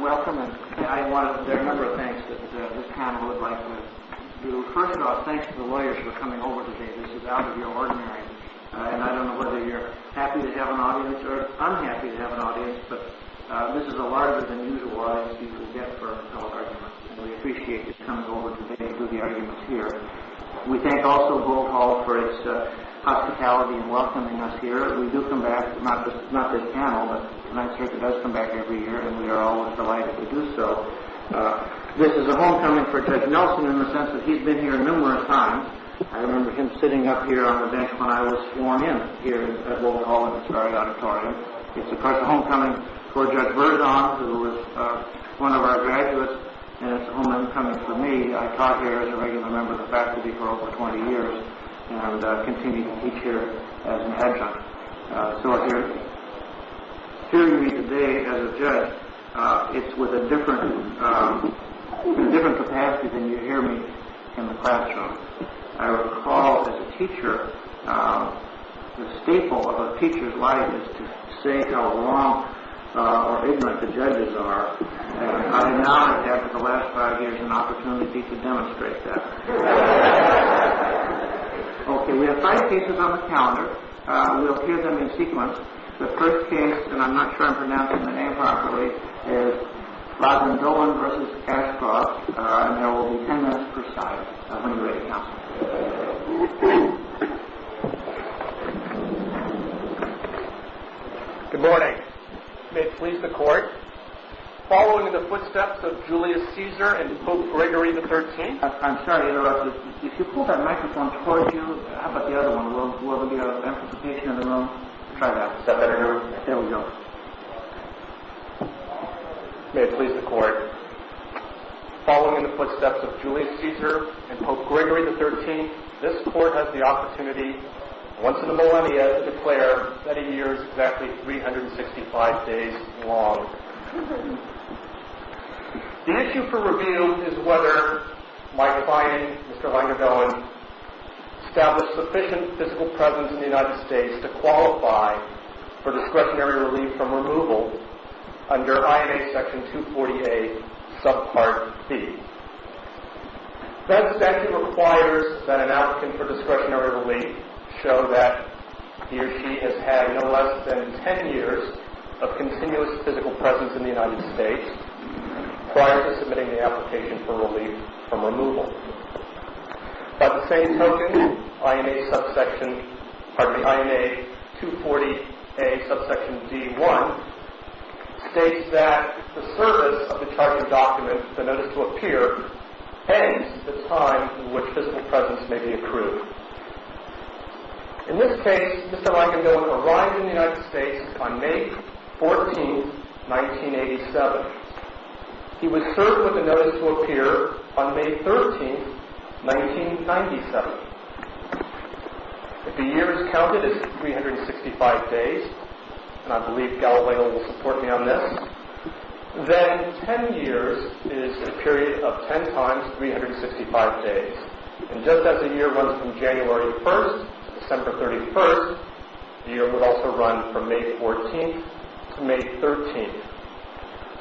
Welcome. There are a number of things that this panel would like to do. First of all, thanks to the lawyers for coming over today. This is out of the ordinary. And I don't know whether you're happy to have an audience or unhappy to have an audience, but this is a larger-than-usual audience you can get for public arguments, and we appreciate you coming over today to do the arguments here. We thank also Bohol for its hospitality in welcoming us here. We do come back, not this panel, but the Ninth Circuit does come back every year, and we are always delighted to do so. This is a homecoming for Judge Nelson in the sense that he's been here numerous times. I remember him sitting up here on the bench when I was sworn in here at Bohol in this very auditorium. It's, of course, a homecoming for Judge Verdon, who is one of our graduates, and it's a homecoming for me. I taught here as a regular member of the faculty for over 20 years and I would continue to teach here as an adjunct. So hearing me today as a judge, it's with a different capacity than you hear me in the classroom. I recall as a teacher, the staple of a teacher's life is to say how wrong or ignorant the judges are, and I acknowledge after the last five years an opportunity to demonstrate that. Okay, we have five cases on the calendar. We'll hear them in sequence. The first case, and I'm not sure I'm pronouncing the name properly, is Rodman-Dolan v. Ashcroft, and there will be ten minutes per side when you're ready to count. Good morning. May it please the court. Following in the footsteps of Julius Caesar and Pope Gregory XIII... I'm sorry to interrupt, but if you pull that microphone towards you, how about the other one? We'll have a bit of anticipation in a moment. Try that. There we go. May it please the court. Following in the footsteps of Julius Caesar and Pope Gregory XIII, this court has the opportunity once in a millennia to declare that a year is exactly 365 days long. The issue for review is whether my client, Mr. Reiner Dolan, established sufficient physical presence in the United States to qualify for discretionary relief from removal under INA Section 240A, Subpart B. That statute requires that an applicant for discretionary relief show that he or she has had no less than ten years of continuous physical presence in the United States prior to submitting the application for relief from removal. By the same token, INA 240A, Subsection D1 states that the service of the Charter document, the Notice to Appear, hangs the time in which physical presence may be accrued. In this case, Mr. Reiner Dolan arrived in the United States on May 14, 1987. He was served with the Notice to Appear on May 13, 1997. If the year is counted as 365 days, and I believe Galileo will support me on this, then ten years is a period of ten times 365 days. And just as a year runs from January 1st to December 31st, the year would also run from May 14th to May 13th.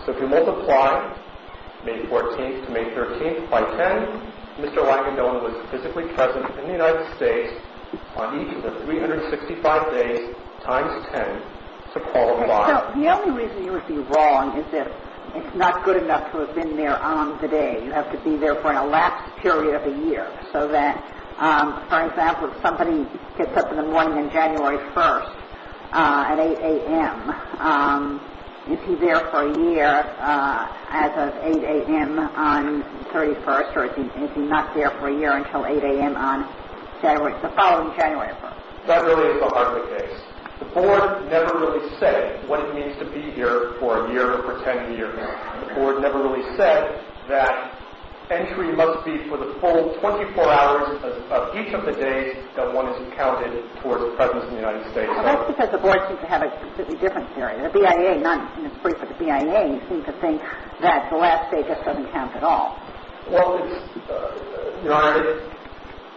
So if you multiply May 14th to May 13th by ten, Mr. Reiner Dolan was physically present in the United States on each of the 365 days times ten to qualify. The only reason you would be wrong is that it's not good enough to have been there on the day. You have to be there for an elapsed period of the year so that, for example, if somebody gets up in the morning on January 1st at 8 a.m., is he there for a year as of 8 a.m. on the 31st, or is he not there for a year until 8 a.m. on the following January 1st? That really is the heart of the case. The Board never really said what it means to be here for a year or for ten years. The Board never really said that entry must be for the full 24 hours of each of the days that one is counted towards the presence in the United States. Well, that's because the Board seems to have a completely different theory. The BIA, not in its brief, but the BIA seems to think that the last day just doesn't count at all. Well, Your Honor,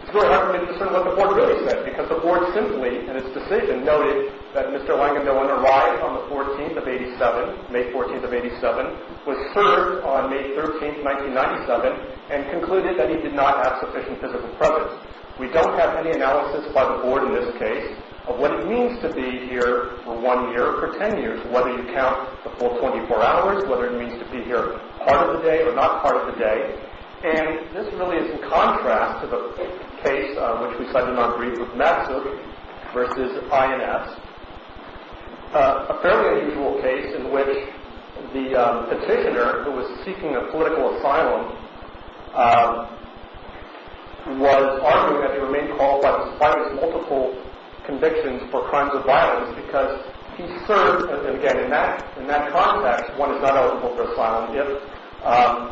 it's really hard for me to discern what the Board really said, because the Board simply, in its decision, noted that Mr. Langendoten arrived on the 14th of 87, May 14th of 87, was served on May 13th, 1997, and concluded that he did not have sufficient physical presence. We don't have any analysis by the Board in this case of what it means to be here for one year or for ten years, whether you count the full 24 hours, whether it means to be here part of the day or not part of the day. And this really is in contrast to the case which we cited in our brief with Massive versus INS, a fairly unusual case in which the petitioner, who was seeking a political asylum, was arguing that he remained qualified despite his multiple convictions for crimes of violence, because he served, again, in that context, one is not eligible for asylum if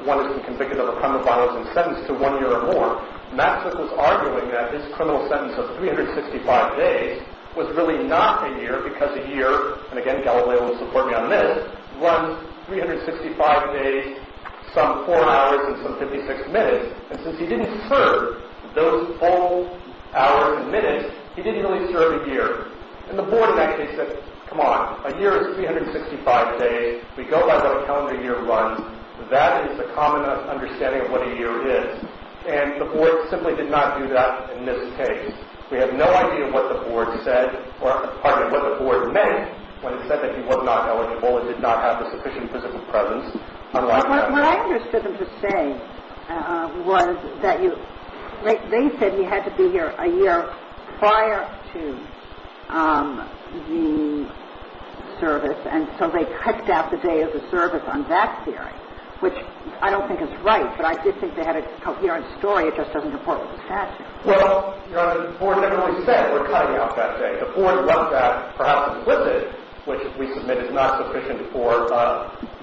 one has been convicted of a crime of violence and sentenced to one year or more. Massive was arguing that his criminal sentence of 365 days was really not a year, because a year, and again, Galileo will support me on this, runs 365 days, some four hours and some 56 minutes, and since he didn't serve those full hours and minutes, he didn't really serve a year. And the Board in that case said, come on, a year is 365 days. We go by what a calendar year runs. That is the common understanding of what a year is. And the Board simply did not do that in this case. We have no idea what the Board said or, pardon me, what the Board meant when it said that he was not eligible and did not have the sufficient physical presence. What I understood them to say was that they said he had to be here a year prior to the service, and so they cut out the day of the service on that theory, which I don't think is right, but I did think they had a coherent story. It just doesn't report what the statute. Well, the Board never really said we're cutting out that day. The Board left that perhaps implicit, which we submit is not sufficient for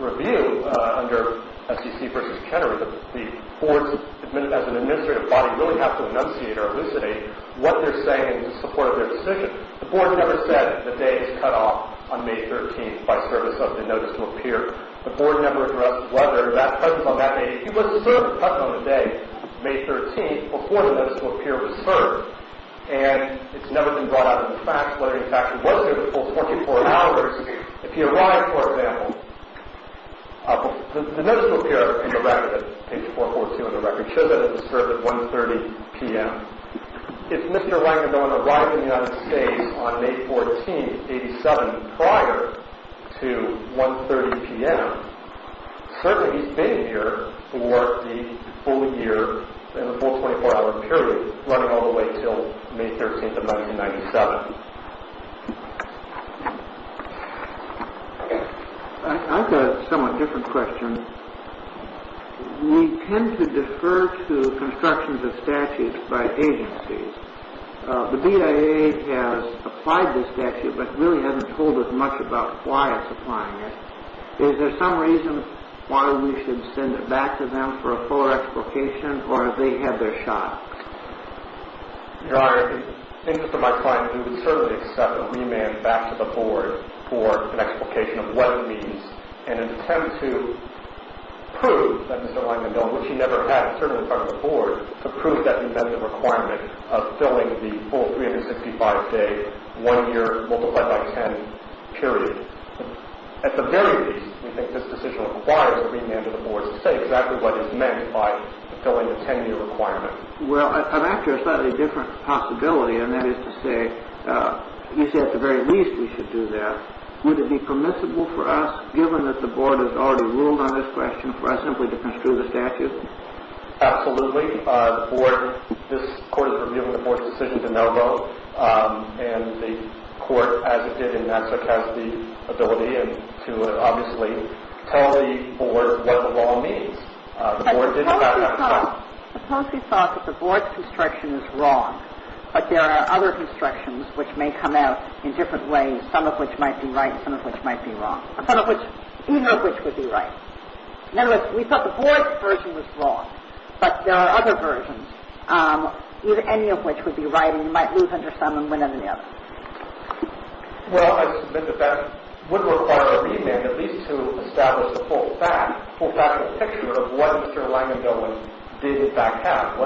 review under SEC v. Kennery. The Board, as an administrative body, really has to enunciate or elucidate what they're saying in support of their decision. The Board never said the day is cut off on May 13th by service of the notice to appear. The Board never addressed whether that presence on that day, he wasn't served on the day May 13th before the notice to appear was served, and it's never been brought up in the facts whether he actually was here the full 24 hours. If he arrived, for example, the notice to appear in the record, page 442 of the record, shows that he was served at 1.30 p.m. If Mr. Langdon arrived in the United States on May 14th, 1987, prior to 1.30 p.m., certainly he's been here for the full year and the full 24-hour period, running all the way until May 13th of 1997. I've got a somewhat different question. We tend to defer to constructions of statutes by agencies. The BIA has applied this statute, but really hasn't told us much about why it's applying it. Is there some reason why we should send it back to them for a fuller explication, or have they had their shot? Your Honor, in the interest of my client, we would certainly accept a remand back to the Board for an explication of what it means, and an attempt to prove that Mr. Langdon, which he never had served in front of the Board, to prove that he met the requirement of filling the full 365-day, one year multiplied by 10 period. At the very least, we think this decision requires a remand to the Board to say exactly what is meant by fulfilling the 10-year requirement. Well, I'm after a slightly different possibility, and that is to say, you say at the very least we should do that. Would it be permissible for us, given that the Board has already ruled on this question, for us simply to construe the statute? Absolutely. The Board, this Court has revealed the Board's decision to no vote, and the Court, as it did in NASA, has the ability to obviously tell the Board what the law means. The Board did not have time. But suppose we thought that the Board's construction is wrong, but there are other constructions which may come out in different ways, some of which might be right, some of which might be wrong, or some of which, either of which would be right. In other words, we thought the Board's version was wrong, but there are other versions, any of which would be right, and you might lose under some and win under the other. Well, I submit that that would require a remand at least to establish the full fact, full factual picture of what Mr. Langendell did in fact have.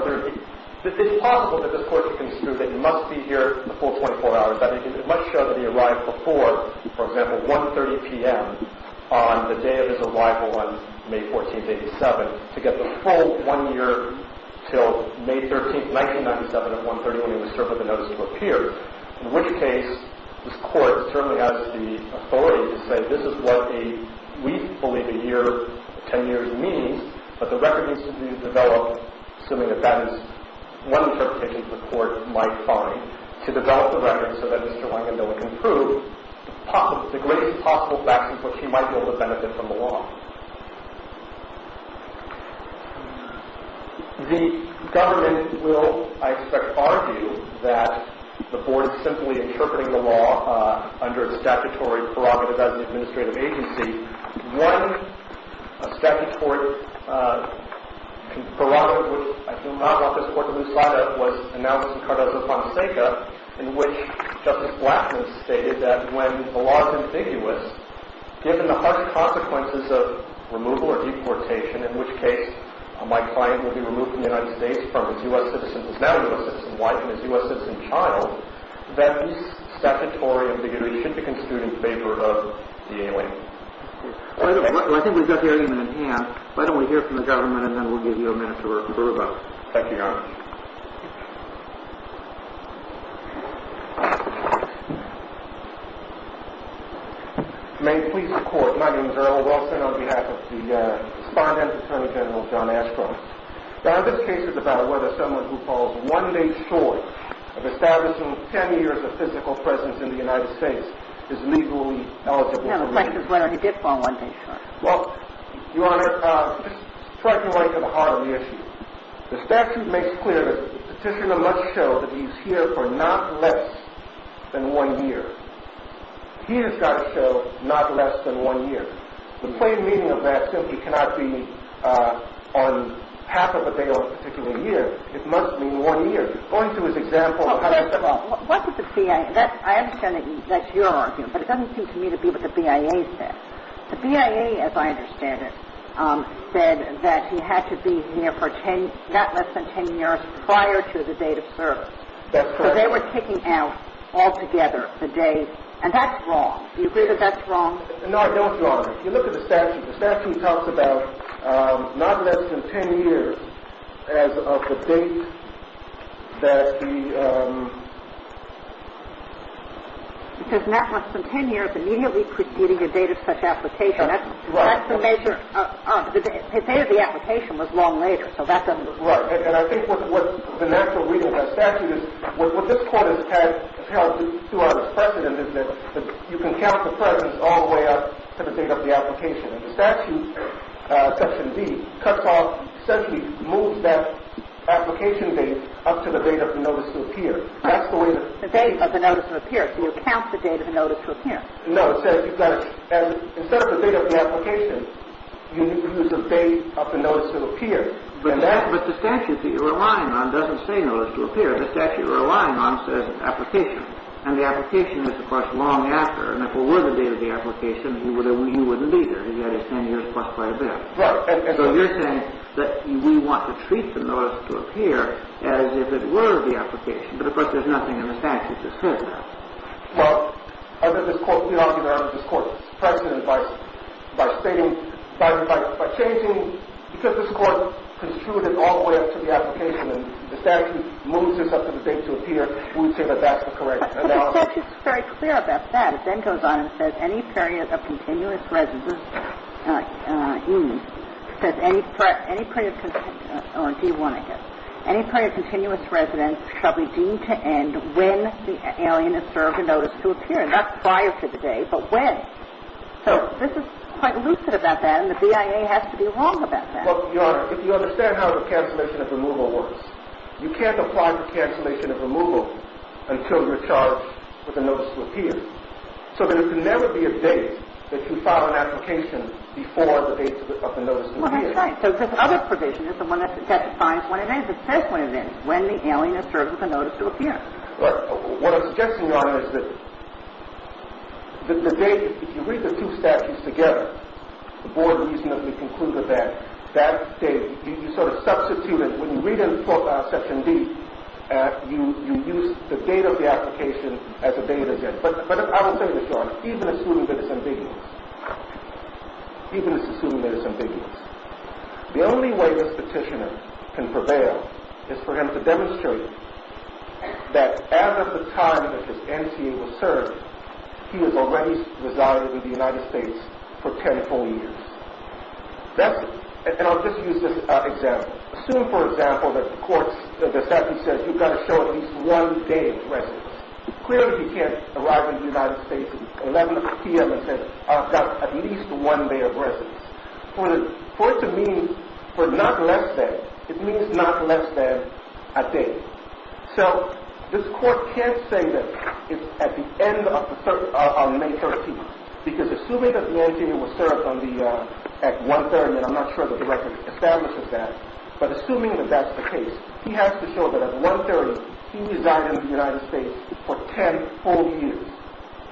It's possible that this Court can construe that he must be here the full 24 hours. It might show that he arrived before, for example, 1.30 p.m. on the day of his arrival on May 14th, 1987, to get the full one year till May 13th, 1997 at 1.30 when he was served with a notice to appear, in which case this Court certainly has the authority to say this is what we believe a year, 10 years, means, but the record needs to be developed, assuming that that is one interpretation the Court might find, to develop the record so that Mr. Langendell would prove the greatest possible facts in which he might be able to benefit from the law. The government will, I expect, argue that the Board is simply interpreting the law under a statutory prerogative as an administrative agency. One statutory prerogative, which I assume not brought this Court to lose sight of, was announced in Cardozo-Fonseca, in which Justice Blattman stated that when the law is ambiguous, given the harsh consequences of removal or deportation, in which case my client will be removed from the United States from his U.S. citizen who is now a U.S. citizen's wife and his U.S. citizen's child, that this statutory ambiguity should be construed in favor of the alien. Well, I think we've got the argument in hand. Why don't we hear from the government, and then we'll give you a minute to revert back. Thank you, Your Honor. May it please the Court, my name is Earl Wilson on behalf of the respondent, Attorney General John Ashcroft. Now, this case is about whether someone who falls one-day short of establishing 10 years of physical presence in the United States is legally eligible. I have a question as to whether he did fall one-day short. Well, Your Honor, just strike me right to the heart of the issue. The statute makes clear that the petitioner must show that he's here for not less than one year. He has got to show not less than one year. The plain meaning of that simply cannot be on half of a day or a particular year. It must mean one year. Going through his example of how he fell. Well, what did the BIA – I understand that's your argument, but it doesn't seem to me to be what the BIA said. The BIA, as I understand it, said that he had to be here for not less than 10 years prior to the date of service. That's correct. So they were kicking out altogether the days. And that's wrong. Do you agree that that's wrong? No, I don't, Your Honor. If you look at the statute, the statute talks about not less than 10 years as of the date that the – It says not less than 10 years immediately preceding the date of such application. Right. That's the measure – his date of the application was long later, so that doesn't – Right. And I think what the natural reading of that statute is – what this Court has held throughout its precedent is that you can count the precedents all the way up to the date of the application. And the statute, Section D, cuts off – essentially moves that application date up to the date of the notice to appear. That's the way that – The date of the notice to appear. So you count the date of the notice to appear. No, it says you've got to – instead of the date of the application, you use the date of the notice to appear. But that – but the statute that you're relying on doesn't say notice to appear. The statute you're relying on says application. And the application is, of course, long after. And if it were the date of the application, he wouldn't be here. He's got his 10 years plus quite a bit. Right. So you're saying that we want to treat the notice to appear as if it were the application. But, of course, there's nothing in the statute that says that. Well, I think this Court – we argue that this Court's precedent by stating – by changing – the statute moves this up to the date to appear. We would say that that's the correct analysis. But the statute's very clear about that. It then goes on and says any period of continuous residence – says any period of – or D-1, I guess. Any period of continuous residence shall be deemed to end when the alien is served a notice to appear. And that's prior to the day, but when. So this is quite lucid about that, and the BIA has to be wrong about that. Your Honor, if you understand how the cancellation of removal works, you can't apply for cancellation of removal until you're charged with a notice to appear. So there can never be a date that you file an application before the date of the notice to appear. Well, that's right. So this other provision is the one that defines when it ends. It says when it ends, when the alien is served with a notice to appear. But what I'm suggesting, Your Honor, is that the date – if you read the two statutes together, the Board reasonably concluded that that date – you sort of substituted – when you read in Section D, you use the date of the application as a date again. But I will tell you this, Your Honor, even assuming that it's ambiguous. Even assuming that it's ambiguous. The only way this petitioner can prevail is for him to demonstrate that as of the time that his NTA was served, he has already resided in the United States for ten full years. That's it. And I'll just use this example. Assume, for example, that the court's statute says you've got to show at least one day of residence. Clearly, he can't arrive in the United States at 11 p.m. and say, I've got at least one day of residence. For it to mean for not less than, it means not less than a day. So this court can't say that it's at the end of May 13th. Because assuming that the NTA was served at 1 30, and I'm not sure the record establishes that, but assuming that that's the case, he has to show that at 1 30, he resided in the United States for ten full years.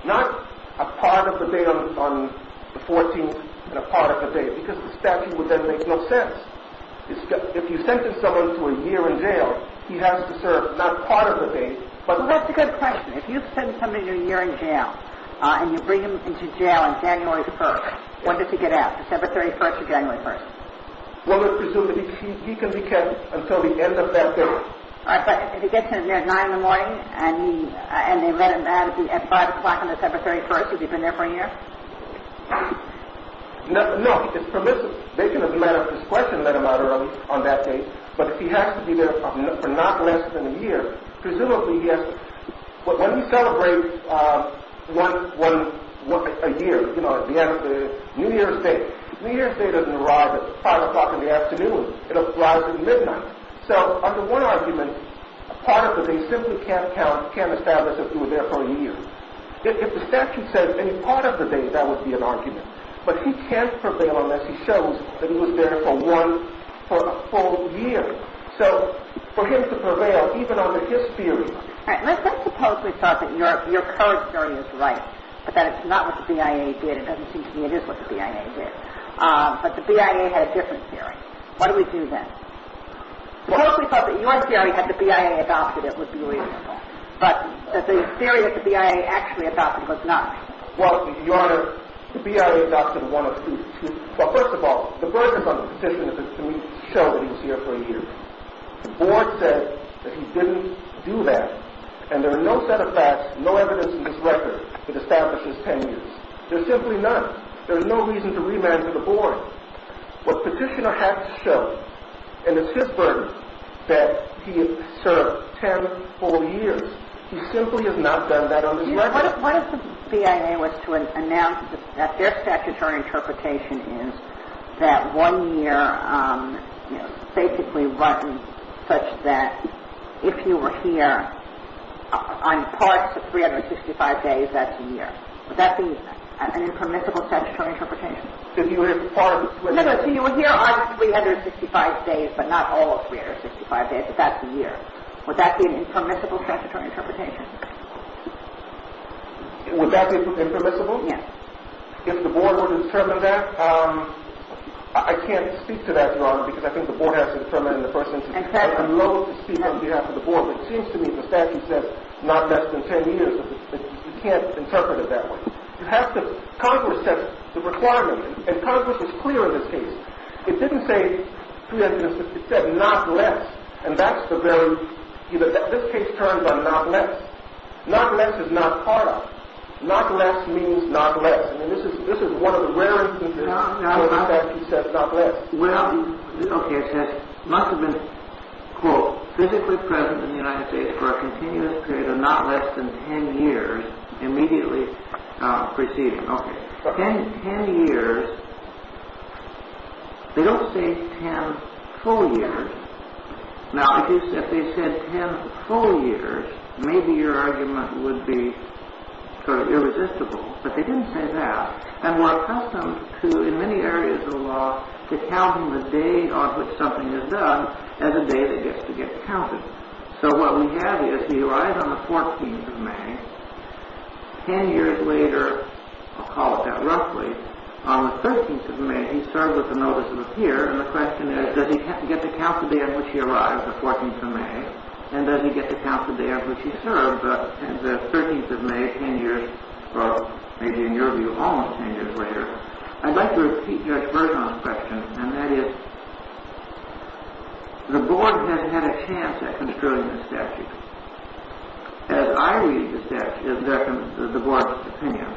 Not a part of the day on the 14th and a part of the day, because the statute would then make no sense. If you sentence someone to a year in jail, he has to serve not part of the day. Well, that's a good question. If you send somebody to a year in jail and you bring them into jail on January 1st, when does he get out? December 31st or January 1st? Well, let's presume that he can be kept until the end of that period. All right, but if he gets in at 9 in the morning and they let him out at 5 o'clock on December 31st, has he been there for a year? No, he's permissive. They can, as a matter of discretion, let him out early on that day, but if he has to be there for not less than a year, presumably, yes, but when you celebrate a year, you know, New Year's Day, New Year's Day doesn't arrive at 5 o'clock in the afternoon. It arrives at midnight. So, under one argument, a part of the day simply can't count, can't establish that he was there for a year. If the statute says any part of the day, that would be an argument. But he can't prevail unless he shows that he was there for one, for a full year. So, for him to prevail, even under his theory. All right, let's suppose we thought that your current theory is right, but that it's not what the BIA did. It doesn't seem to me it is what the BIA did. But the BIA had a different theory. Why do we do that? Suppose we thought that your theory, had the BIA adopted it, would be reasonable, but that the theory that the BIA actually adopted was not. Well, Your Honor, the BIA adopted one of two. Well, first of all, the burden on the petition is to show that he was here for a year. The board said that he didn't do that, and there are no set of facts, no evidence in this record that establishes 10 years. There's simply none. There's no reason to remand to the board. What petitioner has shown, and it's his burden, that he has served 10 full years. He simply has not done that on this record. What if the BIA was to announce that their statutory interpretation is that one year, basically, such that if you were here on parts of 365 days, that's a year. Would that be an impermissible statutory interpretation? No, no, so you were here on 365 days, but not all of 365 days, but that's a year. Would that be an impermissible statutory interpretation? Would that be impermissible? Yes. If the board were to determine that? I can't speak to that, Your Honor, because I think the board has to determine in the first instance. I'm loath to speak on behalf of the board, but it seems to me the statute says not less than 10 years. You can't interpret it that way. Congress set the requirement, and Congress was clear in this case. It didn't say, it said not less, and that's the very, this case turns on not less. Not less is not part of it. Not less means not less. I mean, this is one of the rare instances where the statute says not less. Well, okay, it says, must have been, quote, physically present in the United States for a continuous period of not less than 10 years, immediately preceding. Okay, 10 years. They don't say 10 full years. Now, if they said 10 full years, maybe your argument would be sort of irresistible, but they didn't say that. And we're accustomed to, in many areas of the law, to counting the day on which something is done as a day that gets to get counted. So what we have is he arrived on the 14th of May. Ten years later, I'll call it that roughly, on the 13th of May, he served with a notice of appearance. And the question is, does he get to count the day on which he arrived, the 14th of May, and does he get to count the day on which he served, the 13th of May, 10 years, or maybe in your view, almost 10 years later. I'd like to repeat your version of the question, and that is, the board has had a chance at construing the statute. As I read the statute, the board's opinion,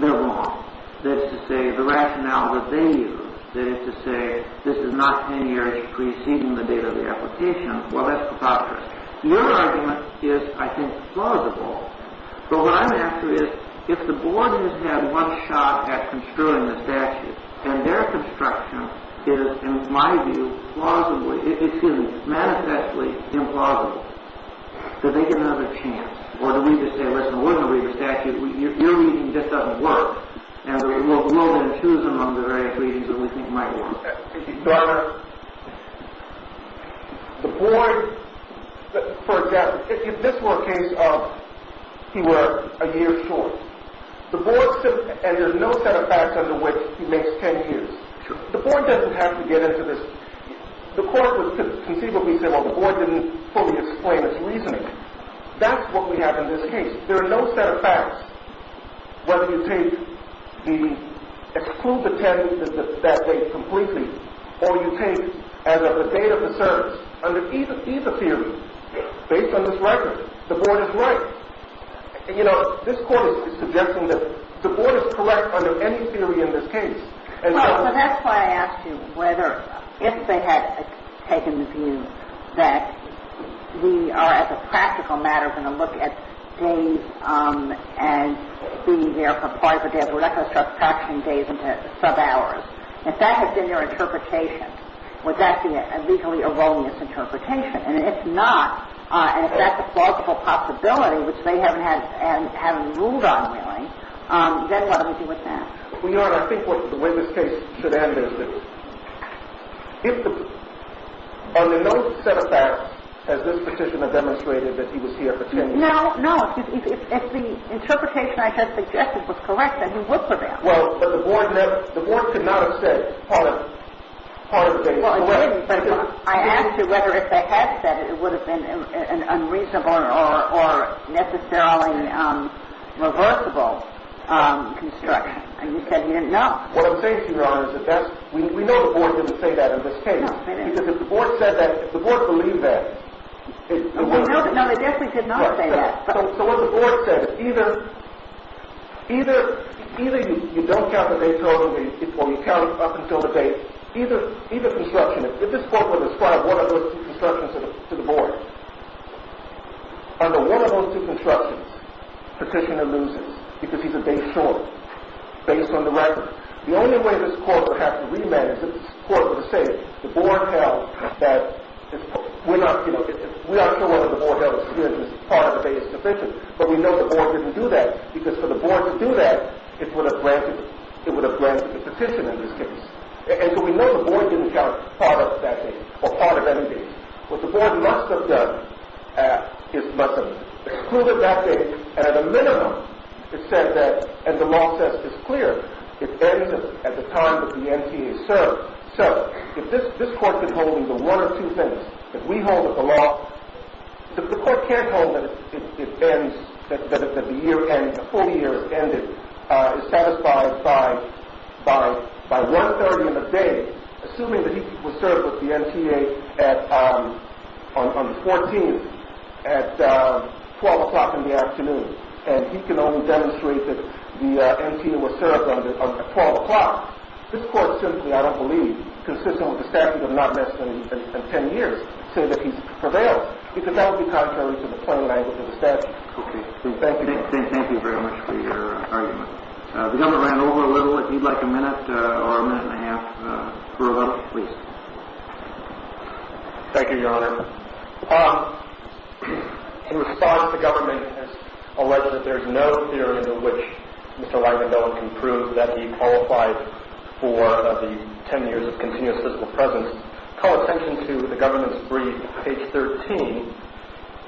they're wrong. That is to say, the rationale that they use, that is to say, this is not 10 years preceding the date of the application, well, that's preposterous. Your argument is, I think, plausible. So what I'm asking is, if the board has had one shot at construing the statute, and their construction is, in my view, plausibly, excuse me, manifestly implausible, do they get another chance? Or do we just say, listen, we're going to read the statute. Your reading just doesn't work, and we'll then choose among the various readings that we think might work. Your Honor, the board, for example, if this were a case of he were a year short, and there's no set of facts under which he makes 10 years, the board doesn't have to get into this. The court would conceivably say, well, the board didn't fully explain its reasoning. That's what we have in this case. If there are no set of facts, whether you take the, exclude the 10 that date completely, or you take as of the date of the service, under either theory, based on this record, the board is right. You know, this court is suggesting that the board is correct under any theory in this case. So that's why I asked you whether, if they had taken the view that we are, as a practical matter, going to look at days and be there for five or days. We're not going to start tracking days into sub-hours. If that had been their interpretation, would that be a legally erroneous interpretation? And if not, and if that's a plausible possibility, which they haven't ruled on, really, then what do we do with that? Well, Your Honor, I think the way this case should end is that if the, under no set of facts, has this petitioner demonstrated that he was here for 10 days? No, no. If the interpretation I had suggested was correct, then he would prevail. Well, but the board could not have said part of the date. Well, it couldn't, but I asked you whether, if they had said it, it would have been an unreasonable or necessarily reversible construction. And you said you didn't know. What I'm saying to you, Your Honor, is that that's, we know the board didn't say that in this case. No, they didn't. Because if the board said that, if the board believed that. No, they definitely did not say that. So what the board says, either you don't count the day total, or you count up until the date, either construction. If this court were to ascribe one of those two constructions to the board, under one of those two constructions, petitioner loses, because he's a day short, based on the record. The only way this court would have to re-manage it is if this court were to say, the board held that, we're not, you know, we are sure whether the board held that the day is sufficient, but we know the board didn't do that, because for the board to do that, it would have granted, it would have granted the petitioner this case. And so we know the board didn't count part of that day, or part of any day. What the board must have done is must have excluded that day, and at a minimum, it said that, and the law says it's clear, it ends at the time that the NTA is served. So if this court could hold even one of two things, if we hold that the law, assuming that he was served with the NTA on the 14th, at 12 o'clock in the afternoon, and he can only demonstrate that the NTA was served on the 12 o'clock, this court simply, I don't believe, consistent with the statute of not less than 10 years, say that he prevails, because that would be contrary to the plain language of the statute. Okay. Thank you. Thank you very much for your argument. The government ran over a little. If you'd like a minute or a minute and a half for a rebuttal, please. Thank you, Your Honor. In response, the government has alleged that there is no theory to which Mr. Langendell can prove that he qualified for the 10 years of continuous physical presence. Call attention to the government's brief, page 13,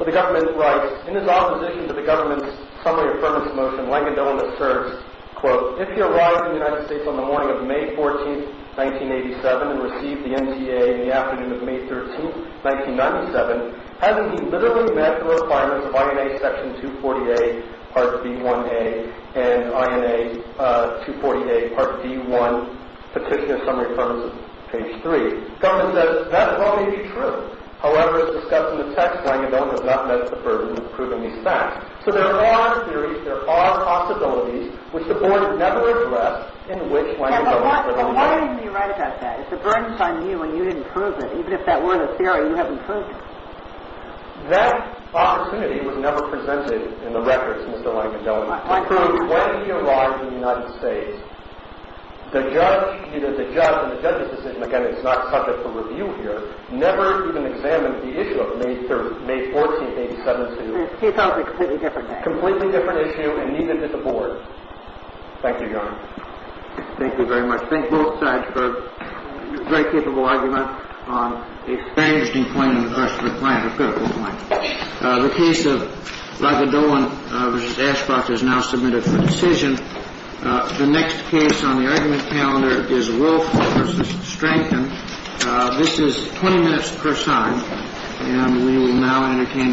where the government writes, In his opposition to the government's summary affirmation motion, Langendell asserts, quote, If he arrived in the United States on the morning of May 14, 1987, and received the NTA in the afternoon of May 13, 1997, hasn't he literally met the requirements of INA Section 240A, Part B1A, and INA 240A, Part D1, Petition of Summary Affirmation, page 3? The government says, That well may be true. However, as discussed in the text, Langendell has not met the burden of proving these facts. So there are theories, there are possibilities, which the board has never addressed in which Langendell has been on the record. And why didn't you write about that? If the burden's on you and you didn't prove it, even if that were the theory, you haven't proved it. That opportunity was never presented in the records, Mr. Langendell, to prove whether he arrived in the United States. The judge, either the judge and the judge's decision, again, it's not subject for review here, never even examined the issue of May 14, 1987. It's a completely different issue. Completely different issue, and neither did the board. Thank you, Your Honor. Thank you very much. Thank both sides for a very capable argument on a very interesting point in regards to the client, a critical point. The case of Langendell v. Ashcroft is now submitted for decision. The next case on the argument calendar is Wilford v. Strangton. This is 20 minutes per side, and we will now entertain the argument.